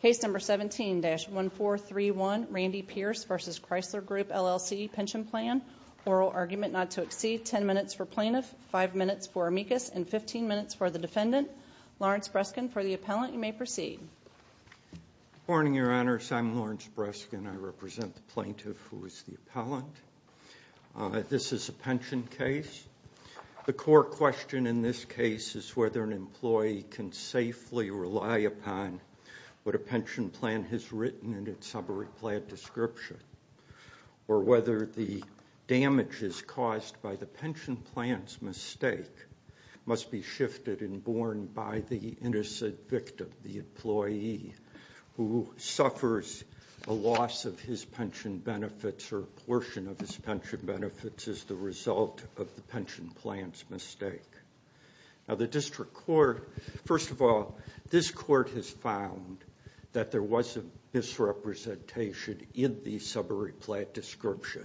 Case number 17-1431, Randy Pearce v. Chrysler Grp LLC Pension Plan. Oral argument not to exceed 10 minutes for plaintiff, 5 minutes for amicus, and 15 minutes for the defendant. Lawrence Breskin for the appellant. You may proceed. Good morning, your honors. I'm Lawrence Breskin. I represent the plaintiff who is the appellant. This is a pension case. The core question in this case is whether an employee can safely rely upon what a pension plan has written in its summary plan description, or whether the damages caused by the pension plan's mistake must be shifted and borne by the innocent victim, the employee, who suffers a loss of his pension benefits or a portion of his pension benefits as the result of the pension plan's mistake. Now the district court, first of all, this court has found that there was a misrepresentation in the summary plan description.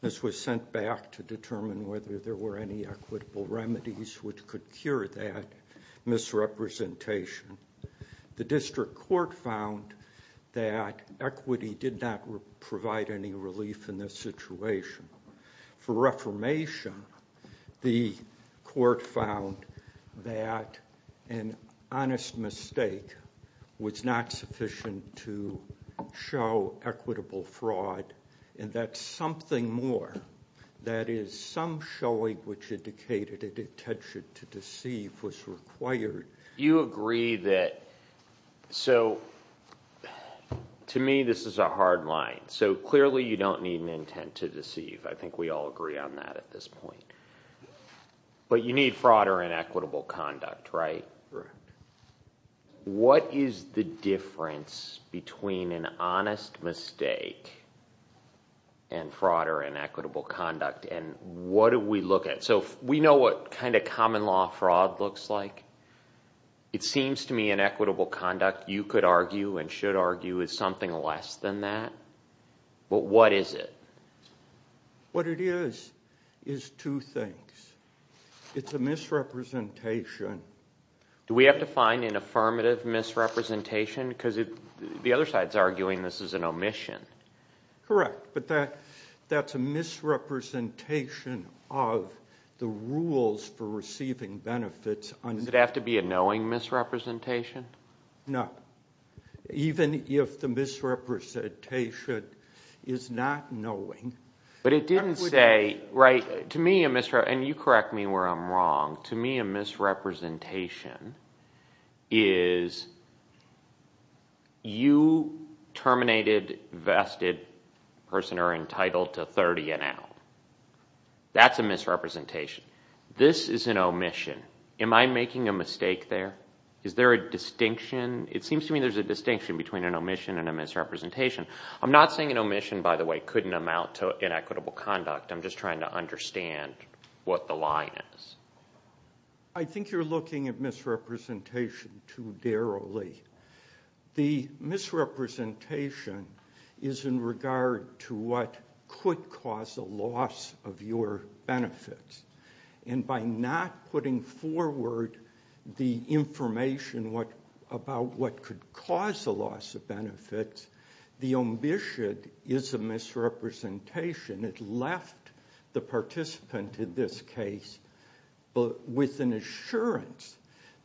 This was sent back to determine whether there were any equitable remedies which could cure that misrepresentation. The district court found that equity did not provide any relief in this situation. For reformation, the court found that an honest mistake was not sufficient to show equitable fraud, and that something more, that is, some showing which indicated a detention to deceive was required. You agree that, so, to me this is a hard line. So clearly you don't need an intent to deceive. I think we all agree on that at this point. But you need fraud or inequitable conduct, right? Correct. What is the difference between an honest mistake and fraud or inequitable conduct, and what do we look at? So we know what kind of common law fraud looks like. It seems to me inequitable conduct, you could argue and should argue, is something less than that. But what is it? What it is, is two things. It's a misrepresentation. Do we have to find an affirmative misrepresentation? Because the other side is arguing this is an omission. Correct. But that's a misrepresentation of the rules for receiving benefits. Does it have to be a knowing misrepresentation? No. Even if the misrepresentation is not knowing. But it didn't say, right, to me a misrepresentation, and you correct me where I'm wrong, to me a misrepresentation is you terminated vested person are entitled to 30 and out. That's a misrepresentation. This is an omission. Am I making a mistake there? Is there a distinction? It seems to me there's a distinction between an omission and a misrepresentation. I'm not saying an omission, by the way, couldn't amount to inequitable conduct. I'm just trying to understand what the line is. I think you're looking at misrepresentation too derrily. The misrepresentation is in regard to what could cause a loss of your benefits. By not putting forward the information about what could cause a loss of benefits, the omission is a misrepresentation. It left the participant in this case with an assurance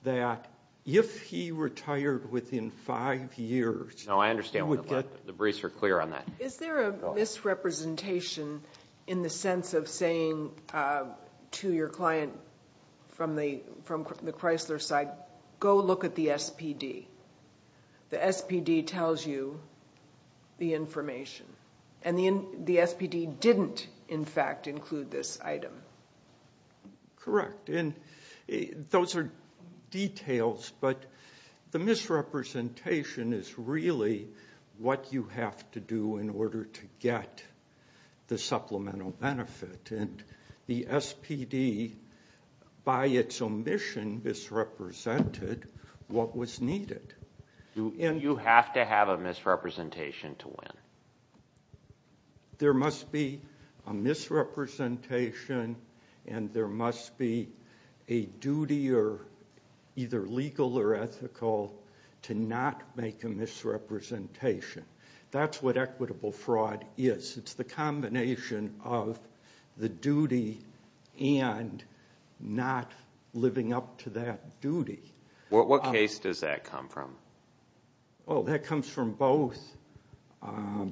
that if he retired within five years... No, I understand. The briefs are clear on that. Is there a misrepresentation in the sense of saying to your client from the Chrysler side, go look at the SPD? The SPD tells you the information, and the SPD didn't, in fact, include this item. Correct. Those are details, but the misrepresentation is really what you have to do in order to get the supplemental benefit. The SPD, by its omission, misrepresented what was needed. You have to have a misrepresentation to win. There must be a misrepresentation and there must be a duty, either legal or ethical, to not make a misrepresentation. That's what equitable fraud is. It's the combination of the duty and not living up to that duty. What case does that come from? That comes from both. I'm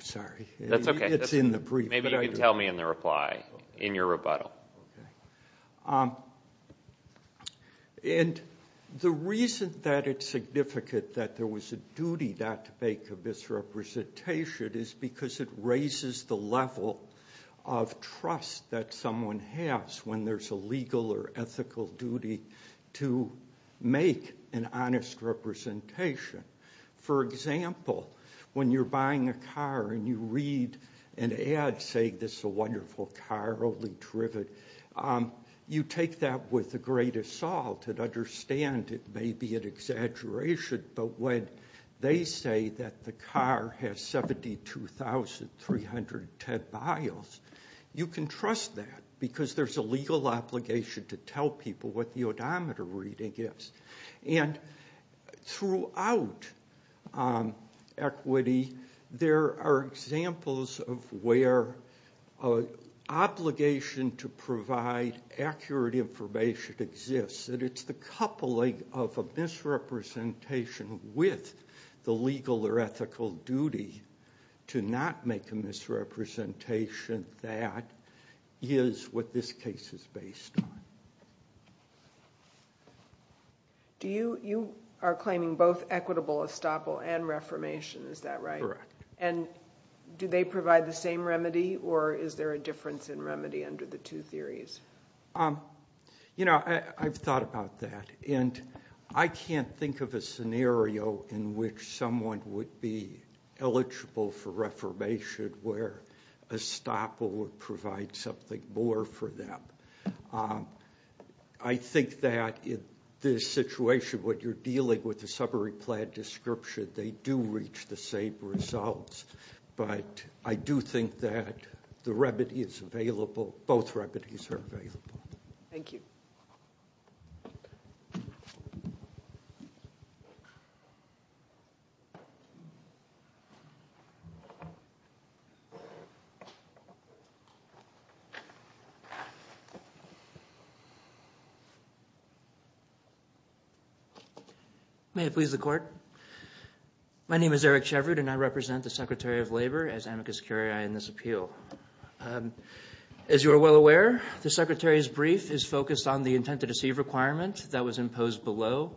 sorry. It's in the brief. Maybe you can tell me in the reply, in your rebuttal. The reason that it's significant that there was a duty not to make a misrepresentation is because it raises the level of trust that someone has when there's a legal or ethical duty to make an honest representation. For example, when you're buying a car and you read an ad saying, this is a wonderful car, really terrific, you take that with a great assault and understand it may be an exaggeration, but when they say that the car has 72,310 miles, you can trust that because there's a legal obligation to tell people what the odometer reading is. Throughout equity, there are examples of where an obligation to provide accurate information exists. It's the coupling of a misrepresentation with the legal or ethical duty to not make a misrepresentation. That is what this case is based on. You are claiming both equitable estoppel and reformation, is that right? Correct. Do they provide the same remedy, or is there a difference in remedy under the two theories? I've thought about that. I can't think of a scenario in which someone would be eligible for reformation where estoppel would provide something more for them. I think that in this situation, what you're dealing with the summary plan description, they do reach the same results. But I do think that the remedy is available, both remedies are available. Thank you. May it please the court. My name is Eric Shevard, and I represent the Secretary of Labor as amicus curiae in this appeal. As you are well aware, the Secretary's brief is focused on the intent to deceive requirement that was imposed below.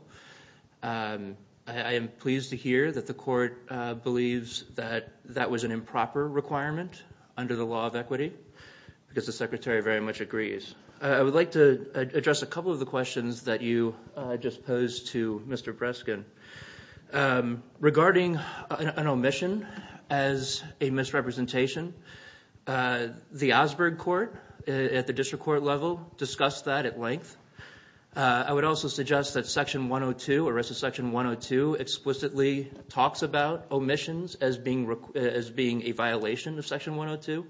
I am pleased to hear that the court believes that that was an improper requirement under the law of equity, because the Secretary very much agrees. I would like to address a couple of the questions that you just posed to Mr. Breskin. Regarding an omission as a misrepresentation, the Osberg court at the district court level discussed that at length. I would also suggest that section 102 explicitly talks about omissions as being a violation of section 102.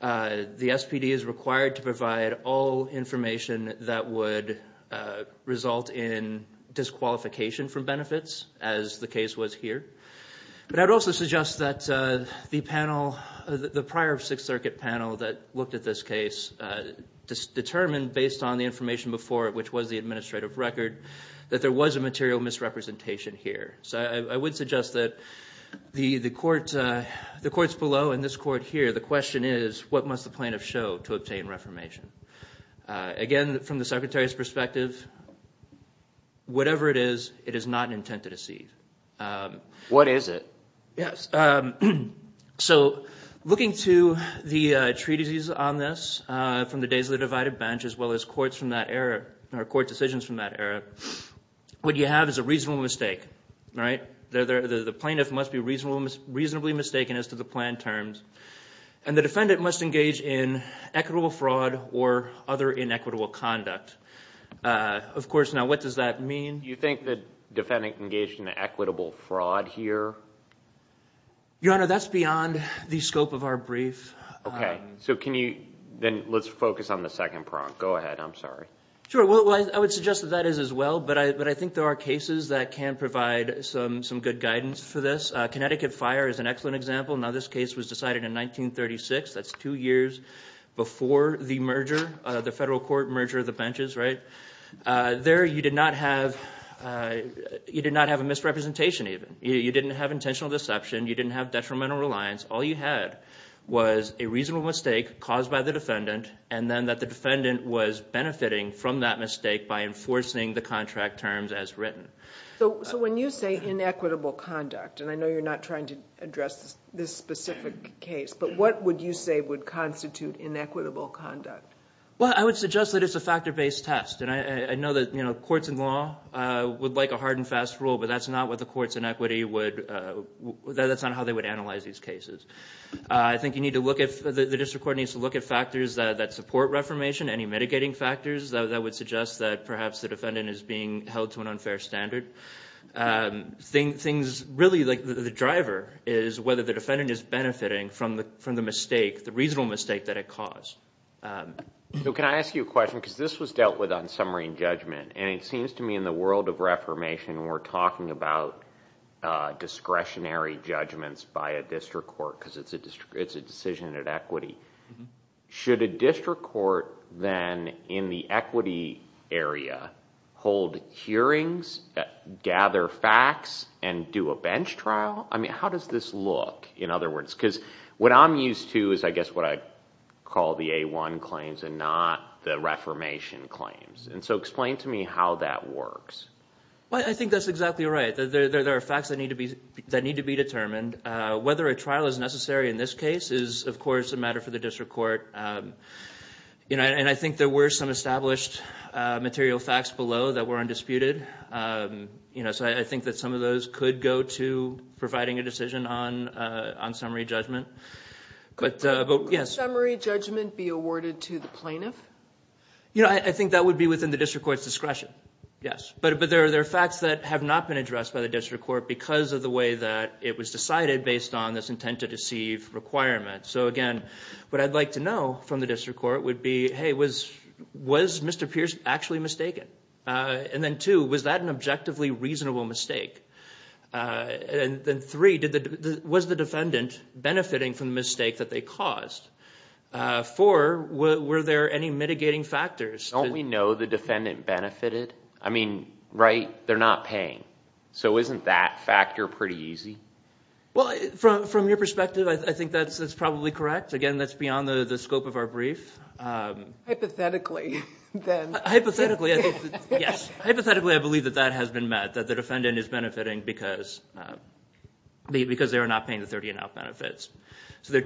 The SPD is required to provide all information that would result in disqualification from benefits, as the case was here. But I would also suggest that the panel, the prior Sixth Circuit panel that looked at this case, determined based on the information before it, which was the administrative record, that there was a material misrepresentation here. So I would suggest that the courts below and this court here, the question is, what must the plaintiff show to obtain reformation? Again, from the Secretary's perspective, whatever it is, it is not an intent to deceive. What is it? Yes, so looking to the treatises on this from the days of the divided bench, as well as courts from that era, or court decisions from that era, what you have is a reasonable mistake, right? The plaintiff must be reasonably mistaken as to the plan terms, and the defendant must engage in equitable fraud or other inequitable conduct. Of course, now what does that mean? Do you think the defendant engaged in equitable fraud here? Your Honor, that's beyond the scope of our brief. Okay, so can you, then let's focus on the second prong. Go ahead, I'm sorry. Sure, well, I would suggest that that is as well, but I think there are cases that can provide some good guidance for this. Connecticut Fire is an excellent example. Now, this case was decided in 1936. That's two years before the merger, the federal court merger of the benches, right? There, you did not have a misrepresentation even. You didn't have intentional deception. You didn't have detrimental reliance. All you had was a reasonable mistake caused by the defendant, and then that the defendant was benefiting from that mistake by enforcing the contract terms as written. So when you say inequitable conduct, and I know you're not trying to address this specific case, but what would you say would constitute inequitable conduct? Well, I would suggest that it's a factor-based test, and I know that courts and law would like a hard and fast rule, but that's not how they would analyze these cases. I think you need to look at, the district court needs to look at factors that support reformation, any mitigating factors that would suggest that perhaps the defendant is being held to an unfair standard. Really, the driver is whether the defendant is benefiting from the mistake, the reasonable mistake that it caused. So can I ask you a question, because this was dealt with on summary and judgment, and it seems to me in the world of reformation, we're talking about discretionary judgments by a district court, because it's a decision at equity. Should a district court then, in the equity area, hold hearings, gather facts, and do a bench trial? I mean, how does this look, in other words? Because what I'm used to is, I guess, what I call the A1 claims and not the reformation claims. And so explain to me how that works. Well, I think that's exactly right. There are facts that need to be determined. Whether a trial is necessary in this case is, of course, a matter for the district court. And I think there were some established material facts below that were undisputed. So I think that some of those could go to providing a decision on summary judgment. Could summary judgment be awarded to the plaintiff? You know, I think that would be within the district court's discretion, yes. But there are facts that have not been addressed by the district court because of the way that it was decided based on this intent to deceive requirement. So, again, what I'd like to know from the district court would be, hey, was Mr. Pierce actually mistaken? And then, two, was that an objectively reasonable mistake? And then, three, was the defendant benefiting from the mistake that they caused? Four, were there any mitigating factors? Don't we know the defendant benefited? I mean, right, they're not paying. So isn't that factor pretty easy? Well, from your perspective, I think that's probably correct. Again, that's beyond the scope of our brief. Hypothetically, then. Hypothetically, yes. Hypothetically, I believe that that has been met, that the defendant is benefiting because they are not paying the 30 and out benefits. So they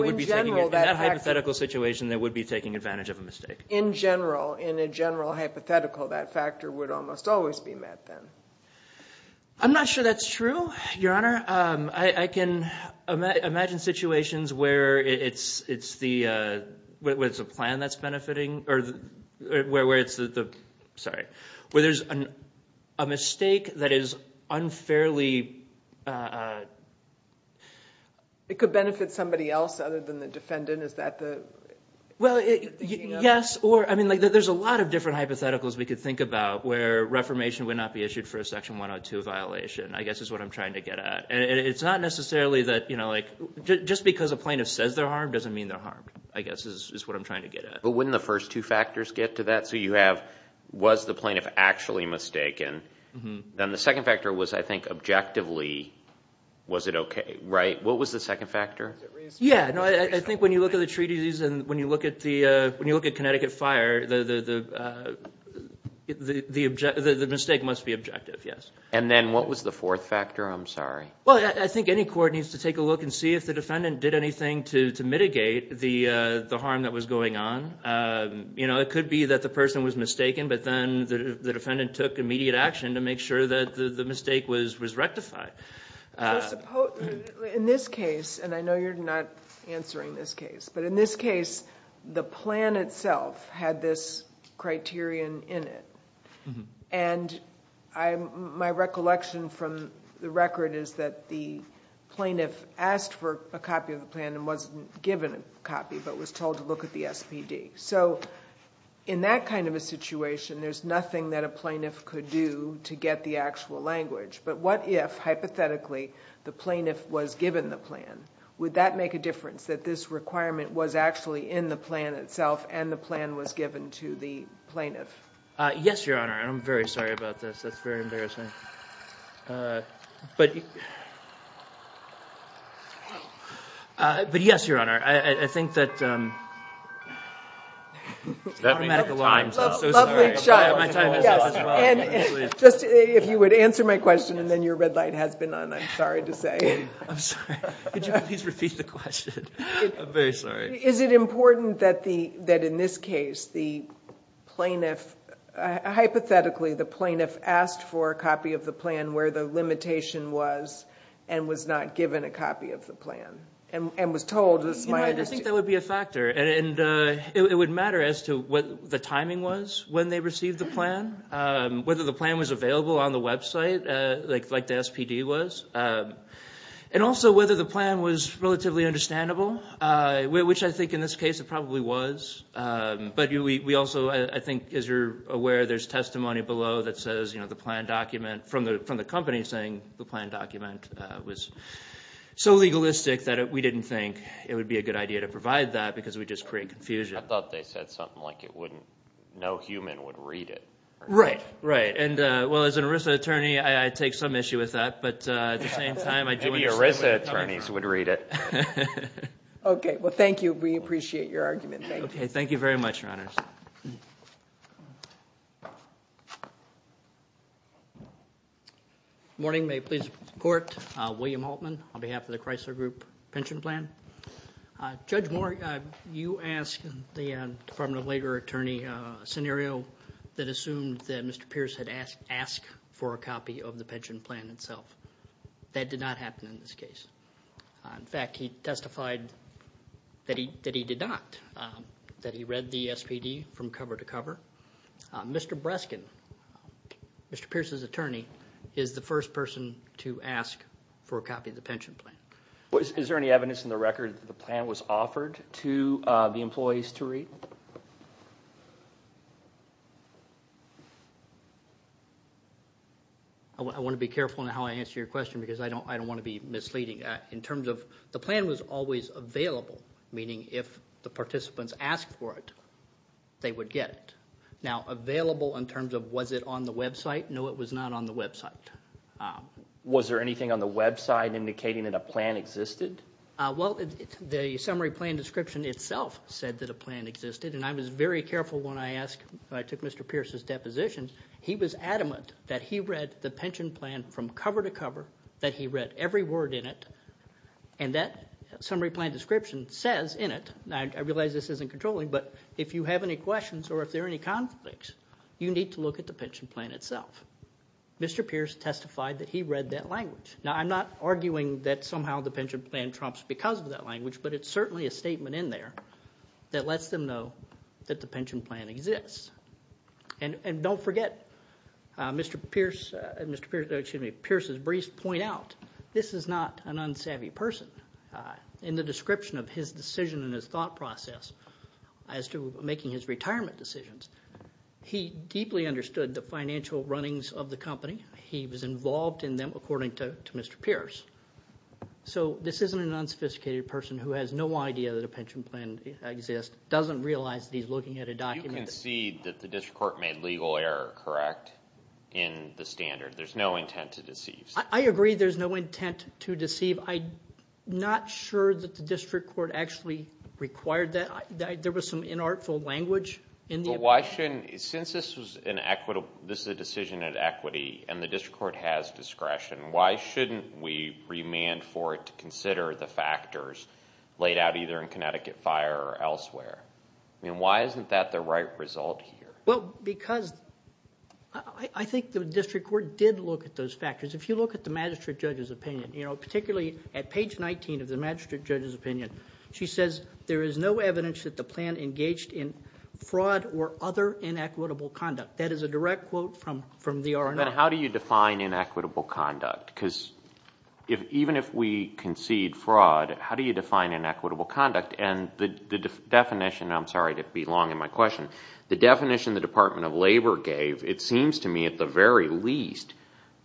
would be taking it. In that hypothetical situation, they would be taking advantage of a mistake. In general, in a general hypothetical, that factor would almost always be met, then. I'm not sure that's true, Your Honor. Your Honor, I can imagine situations where it's the plan that's benefiting, or where it's the, sorry, where there's a mistake that is unfairly. It could benefit somebody else other than the defendant, is that the? Well, yes, or, I mean, there's a lot of different hypotheticals we could think about where reformation would not be issued for a Section 102 violation, I guess is what I'm trying to get at. And it's not necessarily that, you know, like, just because a plaintiff says they're harmed doesn't mean they're harmed, I guess is what I'm trying to get at. But wouldn't the first two factors get to that? So you have, was the plaintiff actually mistaken? Then the second factor was, I think, objectively, was it okay, right? What was the second factor? Yeah, no, I think when you look at the treaties and when you look at Connecticut Fire, the mistake must be objective, yes. And then what was the fourth factor? I'm sorry. Well, I think any court needs to take a look and see if the defendant did anything to mitigate the harm that was going on. You know, it could be that the person was mistaken, but then the defendant took immediate action to make sure that the mistake was rectified. In this case, and I know you're not answering this case, but in this case, the plan itself had this criterion in it. And my recollection from the record is that the plaintiff asked for a copy of the plan and wasn't given a copy, but was told to look at the SPD. So in that kind of a situation, there's nothing that a plaintiff could do to get the actual language. But what if, hypothetically, the plaintiff was given the plan? Would that make a difference, that this requirement was actually in the plan itself and the plan was given to the plaintiff? Yes, Your Honor. I'm very sorry about this. That's very embarrassing. But yes, Your Honor, I think that – That means your time's up. I'm so sorry. If you would answer my question and then your red light has been on, I'm sorry to say. I'm sorry. Could you please repeat the question? I'm very sorry. Is it important that in this case, the plaintiff – hypothetically, the plaintiff asked for a copy of the plan where the limitation was and was not given a copy of the plan? And was told – I think that would be a factor. And it would matter as to what the timing was when they received the plan, whether the plan was available on the website like the SPD was, and also whether the plan was relatively understandable, which I think in this case it probably was. But we also – I think as you're aware, there's testimony below that says the plan document – from the company saying the plan document was so legalistic that we didn't think it would be a good idea to provide that because it would just create confusion. I thought they said something like it wouldn't – no human would read it. Right. Right. And well, as an ERISA attorney, I take some issue with that. But at the same time, I do – Maybe ERISA attorneys would read it. Okay. Well, thank you. We appreciate your argument. Okay. Thank you very much, Your Honors. Good morning. May it please the Court. William Holtman on behalf of the Chrysler Group Pension Plan. Judge Moore, you asked the Department of Labor attorney a scenario that assumed that Mr. Pierce had asked for a copy of the pension plan itself. That did not happen in this case. In fact, he testified that he did not, that he read the SPD from cover to cover. Mr. Breskin, Mr. Pierce's attorney, is the first person to ask for a copy of the pension plan. Is there any evidence in the record that the plan was offered to the employees to read? I want to be careful in how I answer your question because I don't want to be misleading. In terms of the plan was always available, meaning if the participants asked for it, they would get it. Now, available in terms of was it on the website? No, it was not on the website. Was there anything on the website indicating that a plan existed? Well, the summary plan description itself said that a plan existed, and I was very careful when I took Mr. Pierce's deposition. He was adamant that he read the pension plan from cover to cover, that he read every word in it, and that summary plan description says in it, and I realize this isn't controlling, but if you have any questions or if there are any conflicts, you need to look at the pension plan itself. Mr. Pierce testified that he read that language. Now, I'm not arguing that somehow the pension plan trumps because of that language, but it's certainly a statement in there that lets them know that the pension plan exists. And don't forget, Mr. Pierce's briefs point out this is not an unsavvy person. In the description of his decision and his thought process as to making his retirement decisions, he deeply understood the financial runnings of the company. He was involved in them according to Mr. Pierce. So this isn't an unsophisticated person who has no idea that a pension plan exists, doesn't realize that he's looking at a document. You concede that the district court made legal error, correct, in the standard. There's no intent to deceive. I agree there's no intent to deceive. I'm not sure that the district court actually required that. There was some inartful language in the opinion. My question is since this is a decision at equity and the district court has discretion, why shouldn't we remand for it to consider the factors laid out either in Connecticut Fire or elsewhere? I mean, why isn't that the right result here? Well, because I think the district court did look at those factors. If you look at the magistrate judge's opinion, particularly at page 19 of the magistrate judge's opinion, she says there is no evidence that the plan engaged in fraud or other inequitable conduct. That is a direct quote from the R&R. How do you define inequitable conduct? Because even if we concede fraud, how do you define inequitable conduct? And the definition, I'm sorry to be long in my question, the definition the Department of Labor gave, it seems to me at the very least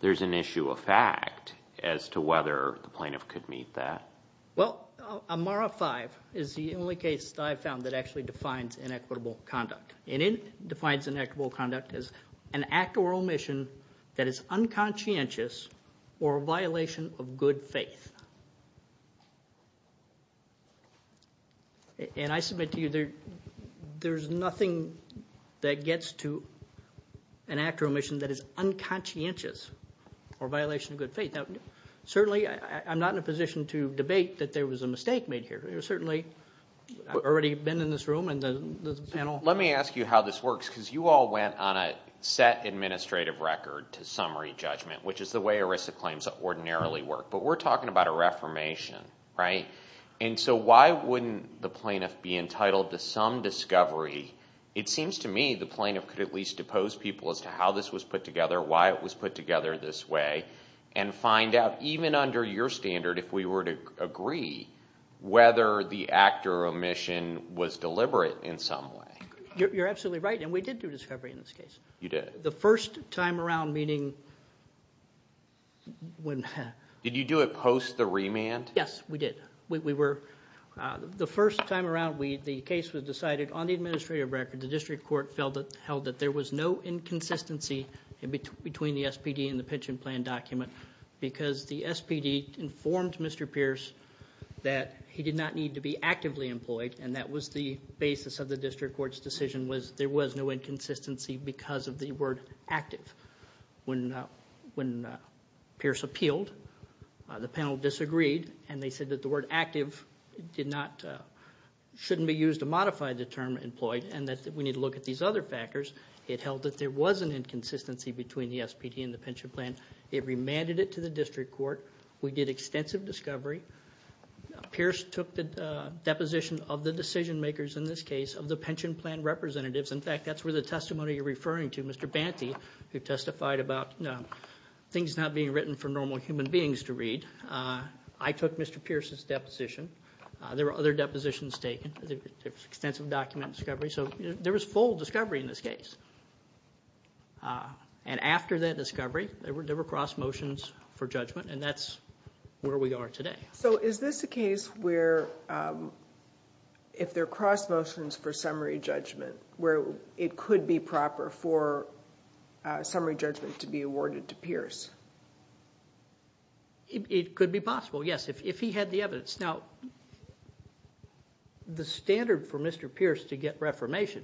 there's an issue of fact as to whether the plaintiff could meet that. Well, Amara 5 is the only case that I've found that actually defines inequitable conduct, and it defines inequitable conduct as an act or omission that is unconscientious or a violation of good faith. And I submit to you there's nothing that gets to an act or omission that is unconscientious or a violation of good faith. Certainly I'm not in a position to debate that there was a mistake made here. Certainly I've already been in this room and the panel. Let me ask you how this works because you all went on a set administrative record to summary judgment, which is the way ERISA claims ordinarily work. But we're talking about a reformation, right? And so why wouldn't the plaintiff be entitled to some discovery? It seems to me the plaintiff could at least depose people as to how this was put together, why it was put together this way, and find out even under your standard if we were to agree whether the act or omission was deliberate in some way. You're absolutely right, and we did do discovery in this case. You did? The first time around, meaning when – Did you do it post the remand? Yes, we did. We were – the first time around the case was decided on the administrative record. The district court held that there was no inconsistency between the SPD and the pension plan document because the SPD informed Mr. Pierce that he did not need to be actively employed, and that was the basis of the district court's decision was there was no inconsistency because of the word active. When Pierce appealed, the panel disagreed, and they said that the word active did not – shouldn't be used to modify the term employed and that we need to look at these other factors. It held that there was an inconsistency between the SPD and the pension plan. It remanded it to the district court. We did extensive discovery. Pierce took the deposition of the decision makers in this case of the pension plan representatives. In fact, that's where the testimony you're referring to, Mr. Banty, who testified about things not being written for normal human beings to read. I took Mr. Pierce's deposition. There were other depositions taken. There was extensive document discovery. So there was full discovery in this case, and after that discovery there were cross motions for judgment, and that's where we are today. So is this a case where if there are cross motions for summary judgment where it could be proper for summary judgment to be awarded to Pierce? It could be possible, yes, if he had the evidence. Now, the standard for Mr. Pierce to get reformation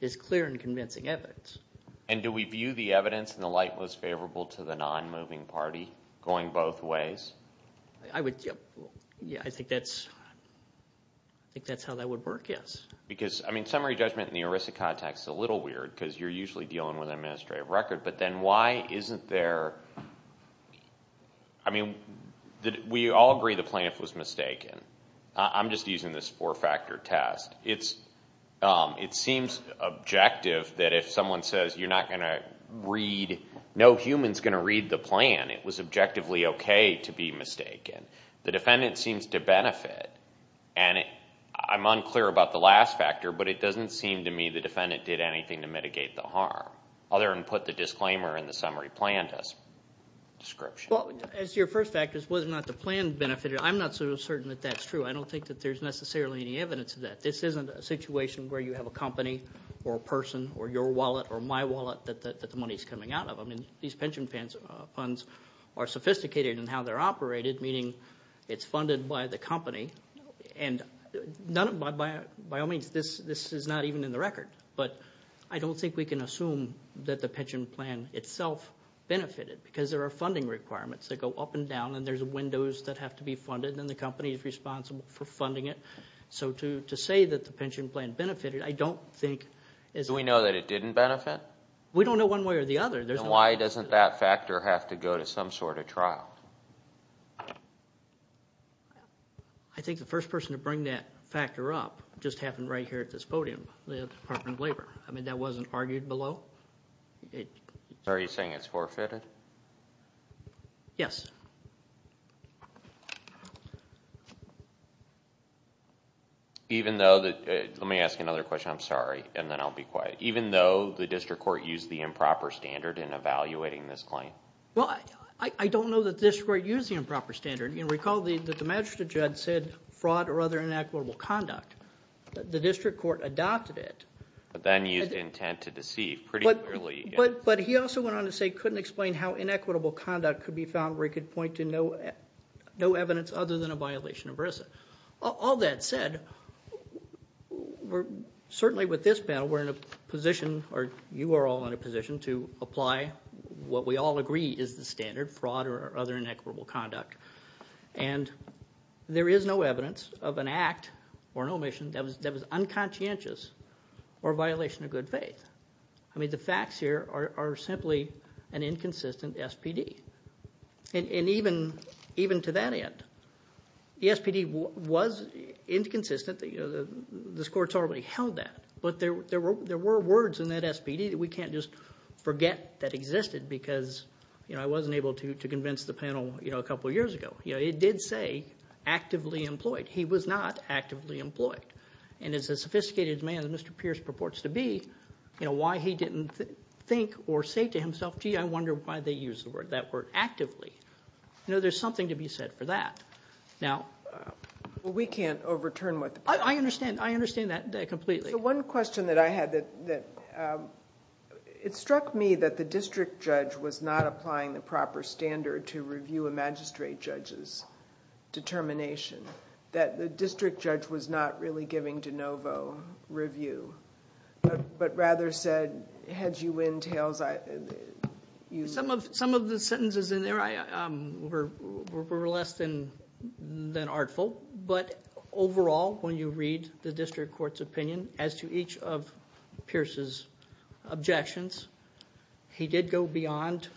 is clear and convincing evidence. And do we view the evidence in the light most favorable to the non-moving party going both ways? I think that's how that would work, yes. Because summary judgment in the ERISA context is a little weird because you're usually dealing with an administrative record, but then why isn't there, I mean, we all agree the plaintiff was mistaken. I'm just using this four-factor test. It seems objective that if someone says you're not going to read, no human's going to read the plan, it was objectively okay to be mistaken. The defendant seems to benefit, and I'm unclear about the last factor, but it doesn't seem to me the defendant did anything to mitigate the harm other than put the disclaimer in the summary plan description. Well, as your first factor is whether or not the plan benefited, I'm not so certain that that's true. I don't think that there's necessarily any evidence of that. This isn't a situation where you have a company or a person or your wallet or my wallet that the money's coming out of. I mean, these pension funds are sophisticated in how they're operated, meaning it's funded by the company, and by all means, this is not even in the record. But I don't think we can assume that the pension plan itself benefited because there are funding requirements that go up and down, and there's windows that have to be funded, and the company is responsible for funding it. So to say that the pension plan benefited, I don't think is enough. Do we know that it didn't benefit? We don't know one way or the other. Then why doesn't that factor have to go to some sort of trial? I think the first person to bring that factor up just happened right here at this podium. The Department of Labor. I mean, that wasn't argued below. Are you saying it's forfeited? Yes. Let me ask you another question. I'm sorry, and then I'll be quiet. Even though the district court used the improper standard in evaluating this claim? Well, I don't know that the district court used the improper standard. Recall that the magistrate judge said fraud or other inequitable conduct. The district court adopted it. But then used intent to deceive pretty clearly. But he also went on to say couldn't explain how inequitable conduct could be found where he could point to no evidence other than a violation of RISA. All that said, certainly with this panel, we're in a position, or you are all in a position to apply what we all agree is the standard, fraud or other inequitable conduct. And there is no evidence of an act or an omission that was unconscientious or a violation of good faith. I mean, the facts here are simply an inconsistent SPD. And even to that end, the SPD was inconsistent. This court's already held that. But there were words in that SPD that we can't just forget that existed because I wasn't able to convince the panel a couple of years ago. It did say actively employed. He was not actively employed. And as a sophisticated man as Mr. Pierce purports to be, why he didn't think or say to himself, gee, I wonder why they used that word, actively. There's something to be said for that. Well, we can't overturn what the panel said. I understand that completely. The one question that I had that it struck me that the district judge was not applying the proper standard to review a magistrate judge's determination, that the district judge was not really giving de novo review, but rather said, heads you win, tails you lose. Some of the sentences in there were less than artful. But overall, when you read the district court's opinion, as to each of Pierce's objections, he did go beyond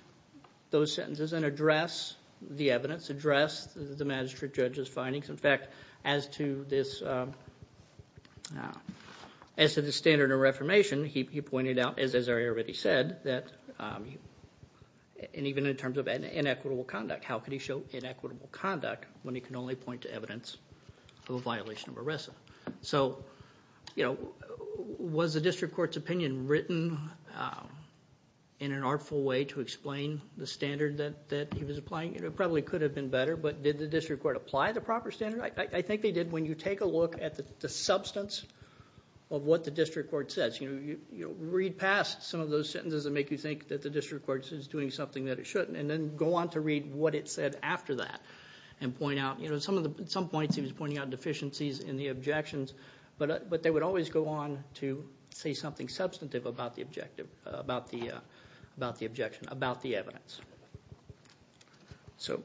those sentences and address the evidence, address the magistrate judge's findings. In fact, as to the standard of reformation, he pointed out, as I already said, that even in terms of inequitable conduct, how can he show inequitable conduct when he can only point to evidence of a violation of arrest? So was the district court's opinion written in an artful way to explain the standard that he was applying? It probably could have been better, but did the district court apply the proper standard? I think they did. When you take a look at the substance of what the district court says, read past some of those sentences that make you think that the district court is doing something that it shouldn't. And then go on to read what it said after that and point out. At some points he was pointing out deficiencies in the objections, but they would always go on to say something substantive about the objection, about the evidence. So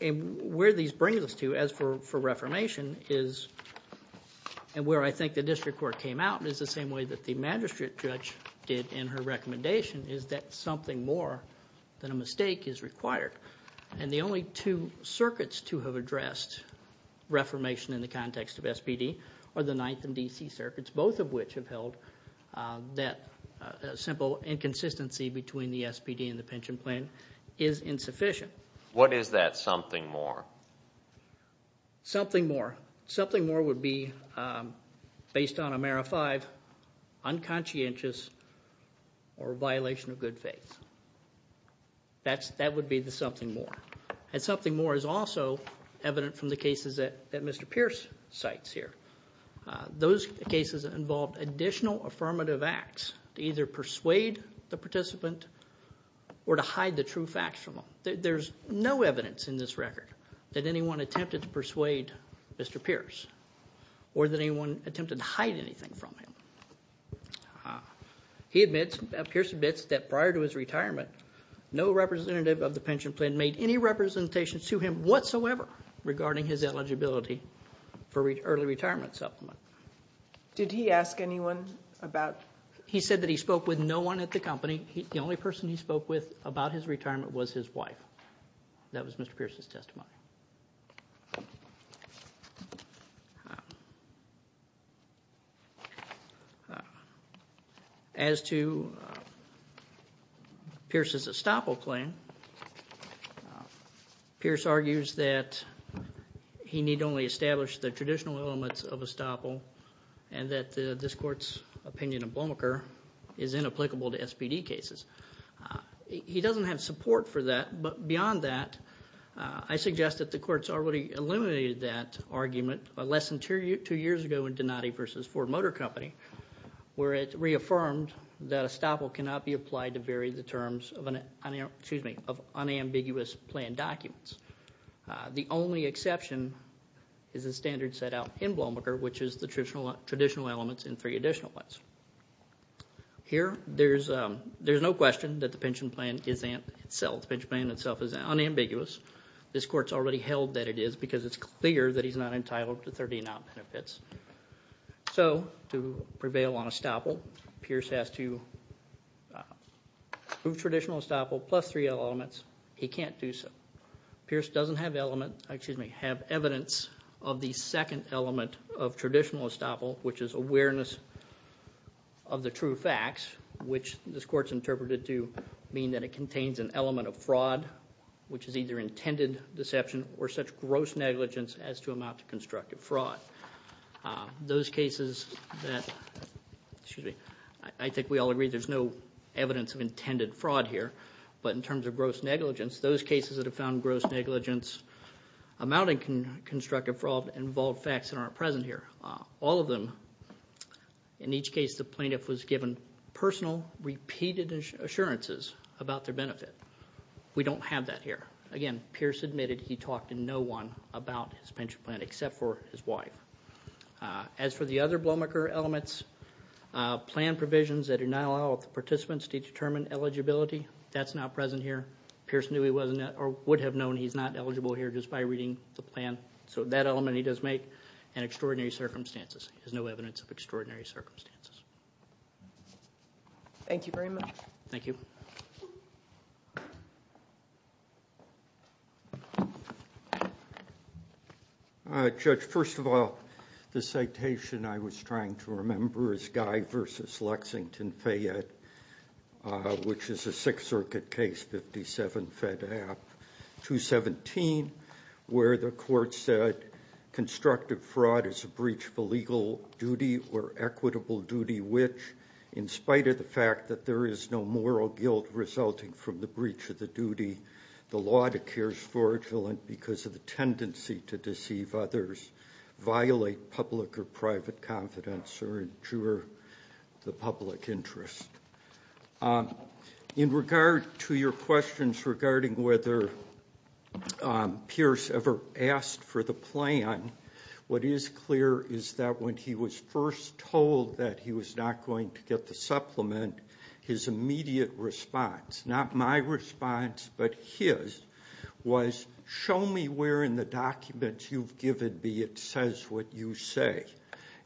where these bring us to as for reformation is, and where I think the district court came out is the same way that the district court came out with the objection is that something more than a mistake is required. And the only two circuits to have addressed reformation in the context of SPD are the ninth and DC circuits, both of which have held that simple inconsistency between the SPD and the pension plan is insufficient. What is that something more? Something more. Something more would be based on Amera five, unconscientious or violation of good faith. That would be the something more. And something more is also evident from the cases that Mr. Pierce cites here. Those cases involved additional affirmative acts to either persuade the participant or to hide the true facts from them. There's no evidence in this record that anyone attempted to persuade Mr. Pierce or that anyone attempted to hide anything from him. He admits, Pierce admits that prior to his retirement, no representative of the pension plan made any representations to him whatsoever regarding his eligibility for early retirement supplement. Did he ask anyone about. He said that he spoke with no one at the company. The only person he spoke with about his retirement was his wife. That was Mr. Pierce's testimony. As to Pierce's estoppel plan, Pierce argues that he need only establish the traditional elements of estoppel and that this court's opinion of Blomaker is inapplicable to SBD cases. He doesn't have support for that, but beyond that, I suggest that the court's already eliminated that argument less than two years ago in Donati v. Ford Motor Company where it reaffirmed that estoppel cannot be applied to vary the terms of unambiguous plan documents. The only exception is the standard set out in Blomaker, which is the traditional elements and three additional ones. Here, there's no question that the pension plan itself is unambiguous. This court's already held that it is because it's clear that he's not entitled to 30 and up benefits. To prevail on estoppel, Pierce has to approve traditional estoppel plus three elements. He can't do so. Pierce doesn't have evidence of the second element of traditional estoppel, which is awareness of the true facts, which this court's interpreted to mean that it contains an element of fraud, which is either intended deception or such gross negligence as to amount to constructive fraud. Those cases that, excuse me, I think we all agree there's no evidence of intended fraud here, but in terms of gross negligence, those cases that have found gross negligence amounting to constructive fraud involve facts that aren't present here. All of them, in each case the plaintiff was given personal repeated assurances about their benefit. We don't have that here. Again, Pierce admitted he talked to no one about his pension plan except for his wife. As for the other Blomaker elements, plan provisions that do not allow the participants to determine eligibility, that's not present here. Pierce would have known he's not eligible here just by reading the plan, so that element he does make, and extraordinary circumstances. There's no evidence of extraordinary circumstances. Thank you very much. Thank you. Judge, first of all, the citation I was trying to remember is Guy versus Lexington Fayette, which is a Sixth Circuit case, 657 Fed App 217, where the court said, constructive fraud is a breach of a legal duty or equitable duty, which in spite of the fact that there is no moral guilt resulting from the breach of the duty, the law declares fraudulent because of the tendency to deceive others, violate public or private confidence, or injure the public interest. In regard to your questions regarding whether Pierce ever asked for the plan, what is clear is that when he was first told that he was not going to get the supplement, his immediate response, not my response, but his, was show me where in the documents you've given me it says what you say.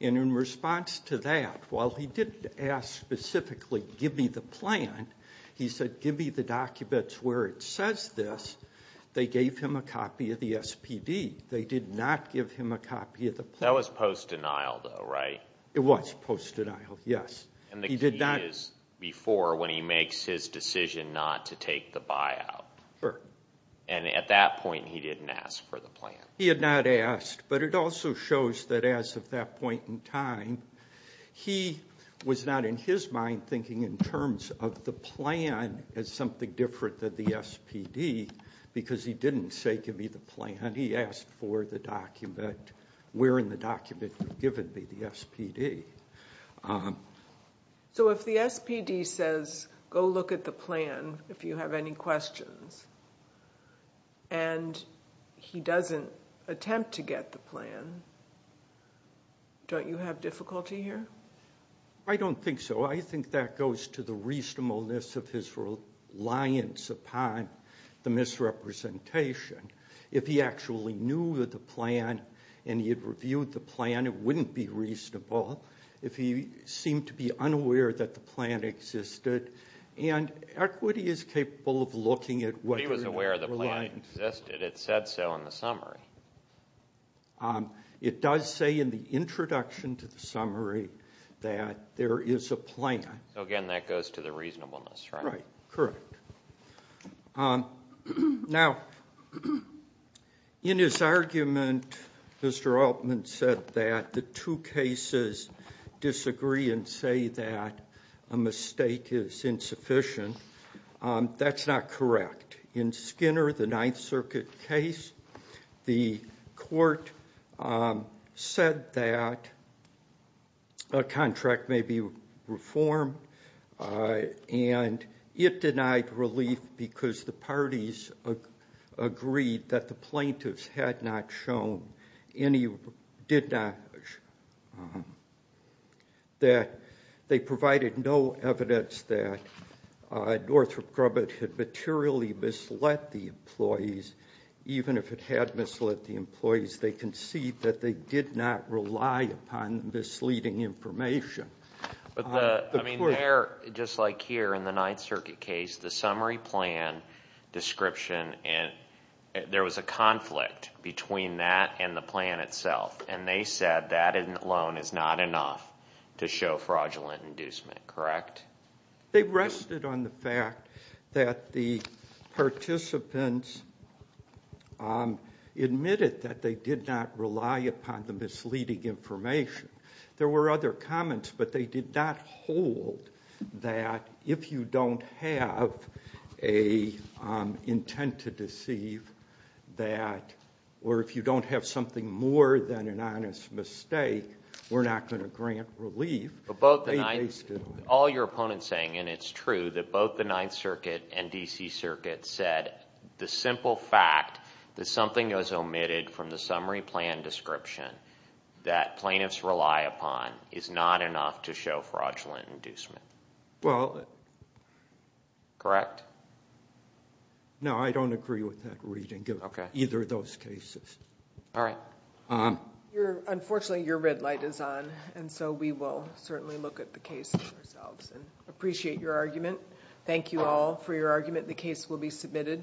And in response to that, while he didn't ask specifically, give me the plan, he said, give me the documents where it says this. They gave him a copy of the SPD. They did not give him a copy of the plan. That was post-denial though, right? It was post-denial, yes. And the key is before when he makes his decision not to take the buyout. And at that point he didn't ask for the plan. He had not asked, but it also shows that as of that point in time, he was not in his mind thinking in terms of the plan as something different than the SPD because he didn't say, give me the plan. He asked for the document, where in the document you've given me, the SPD. So if the SPD says, go look at the plan if you have any questions, and he doesn't attempt to get the plan, don't you have difficulty here? I don't think so. I think that goes to the reasonableness of his reliance upon the misrepresentation. If he actually knew the plan and he had reviewed the plan, it wouldn't be reasonable. If he seemed to be unaware that the plan existed, and equity is capable of looking at whether it was reliant. He was aware the plan existed. It said so in the summary. It does say in the introduction to the summary that there is a plan. So, again, that goes to the reasonableness, right? Right. Correct. Now, in his argument, Mr. Altman said that the two cases disagree and say that a mistake is insufficient. That's not correct. In Skinner, the Ninth Circuit case, the court said that a contract may be reformed, and it denied relief because the parties agreed that the plaintiffs had not shown any, did not, that they provided no evidence that Northrop Grubbett had materially misled the employees. Even if it had misled the employees, they concede that they did not rely upon misleading information. I mean, there, just like here in the Ninth Circuit case, the summary plan description, there was a conflict between that and the plan itself, and they said that alone is not enough to show fraudulent inducement. Correct? They rested on the fact that the participants admitted that they did not rely upon the misleading information. There were other comments, but they did not hold that if you don't have an intent to deceive that, or if you don't have something more than an honest mistake, we're not going to grant relief. All your opponents saying, and it's true, that both the Ninth Circuit and D.C. Circuit said the simple fact that something was omitted from the summary plan description that plaintiffs rely upon is not enough to show fraudulent inducement. Well... Correct? No, I don't agree with that reading of either of those cases. All right. Unfortunately, your red light is on, and so we will certainly look at the case ourselves, and appreciate your argument. Thank you all for your argument. The case will be submitted.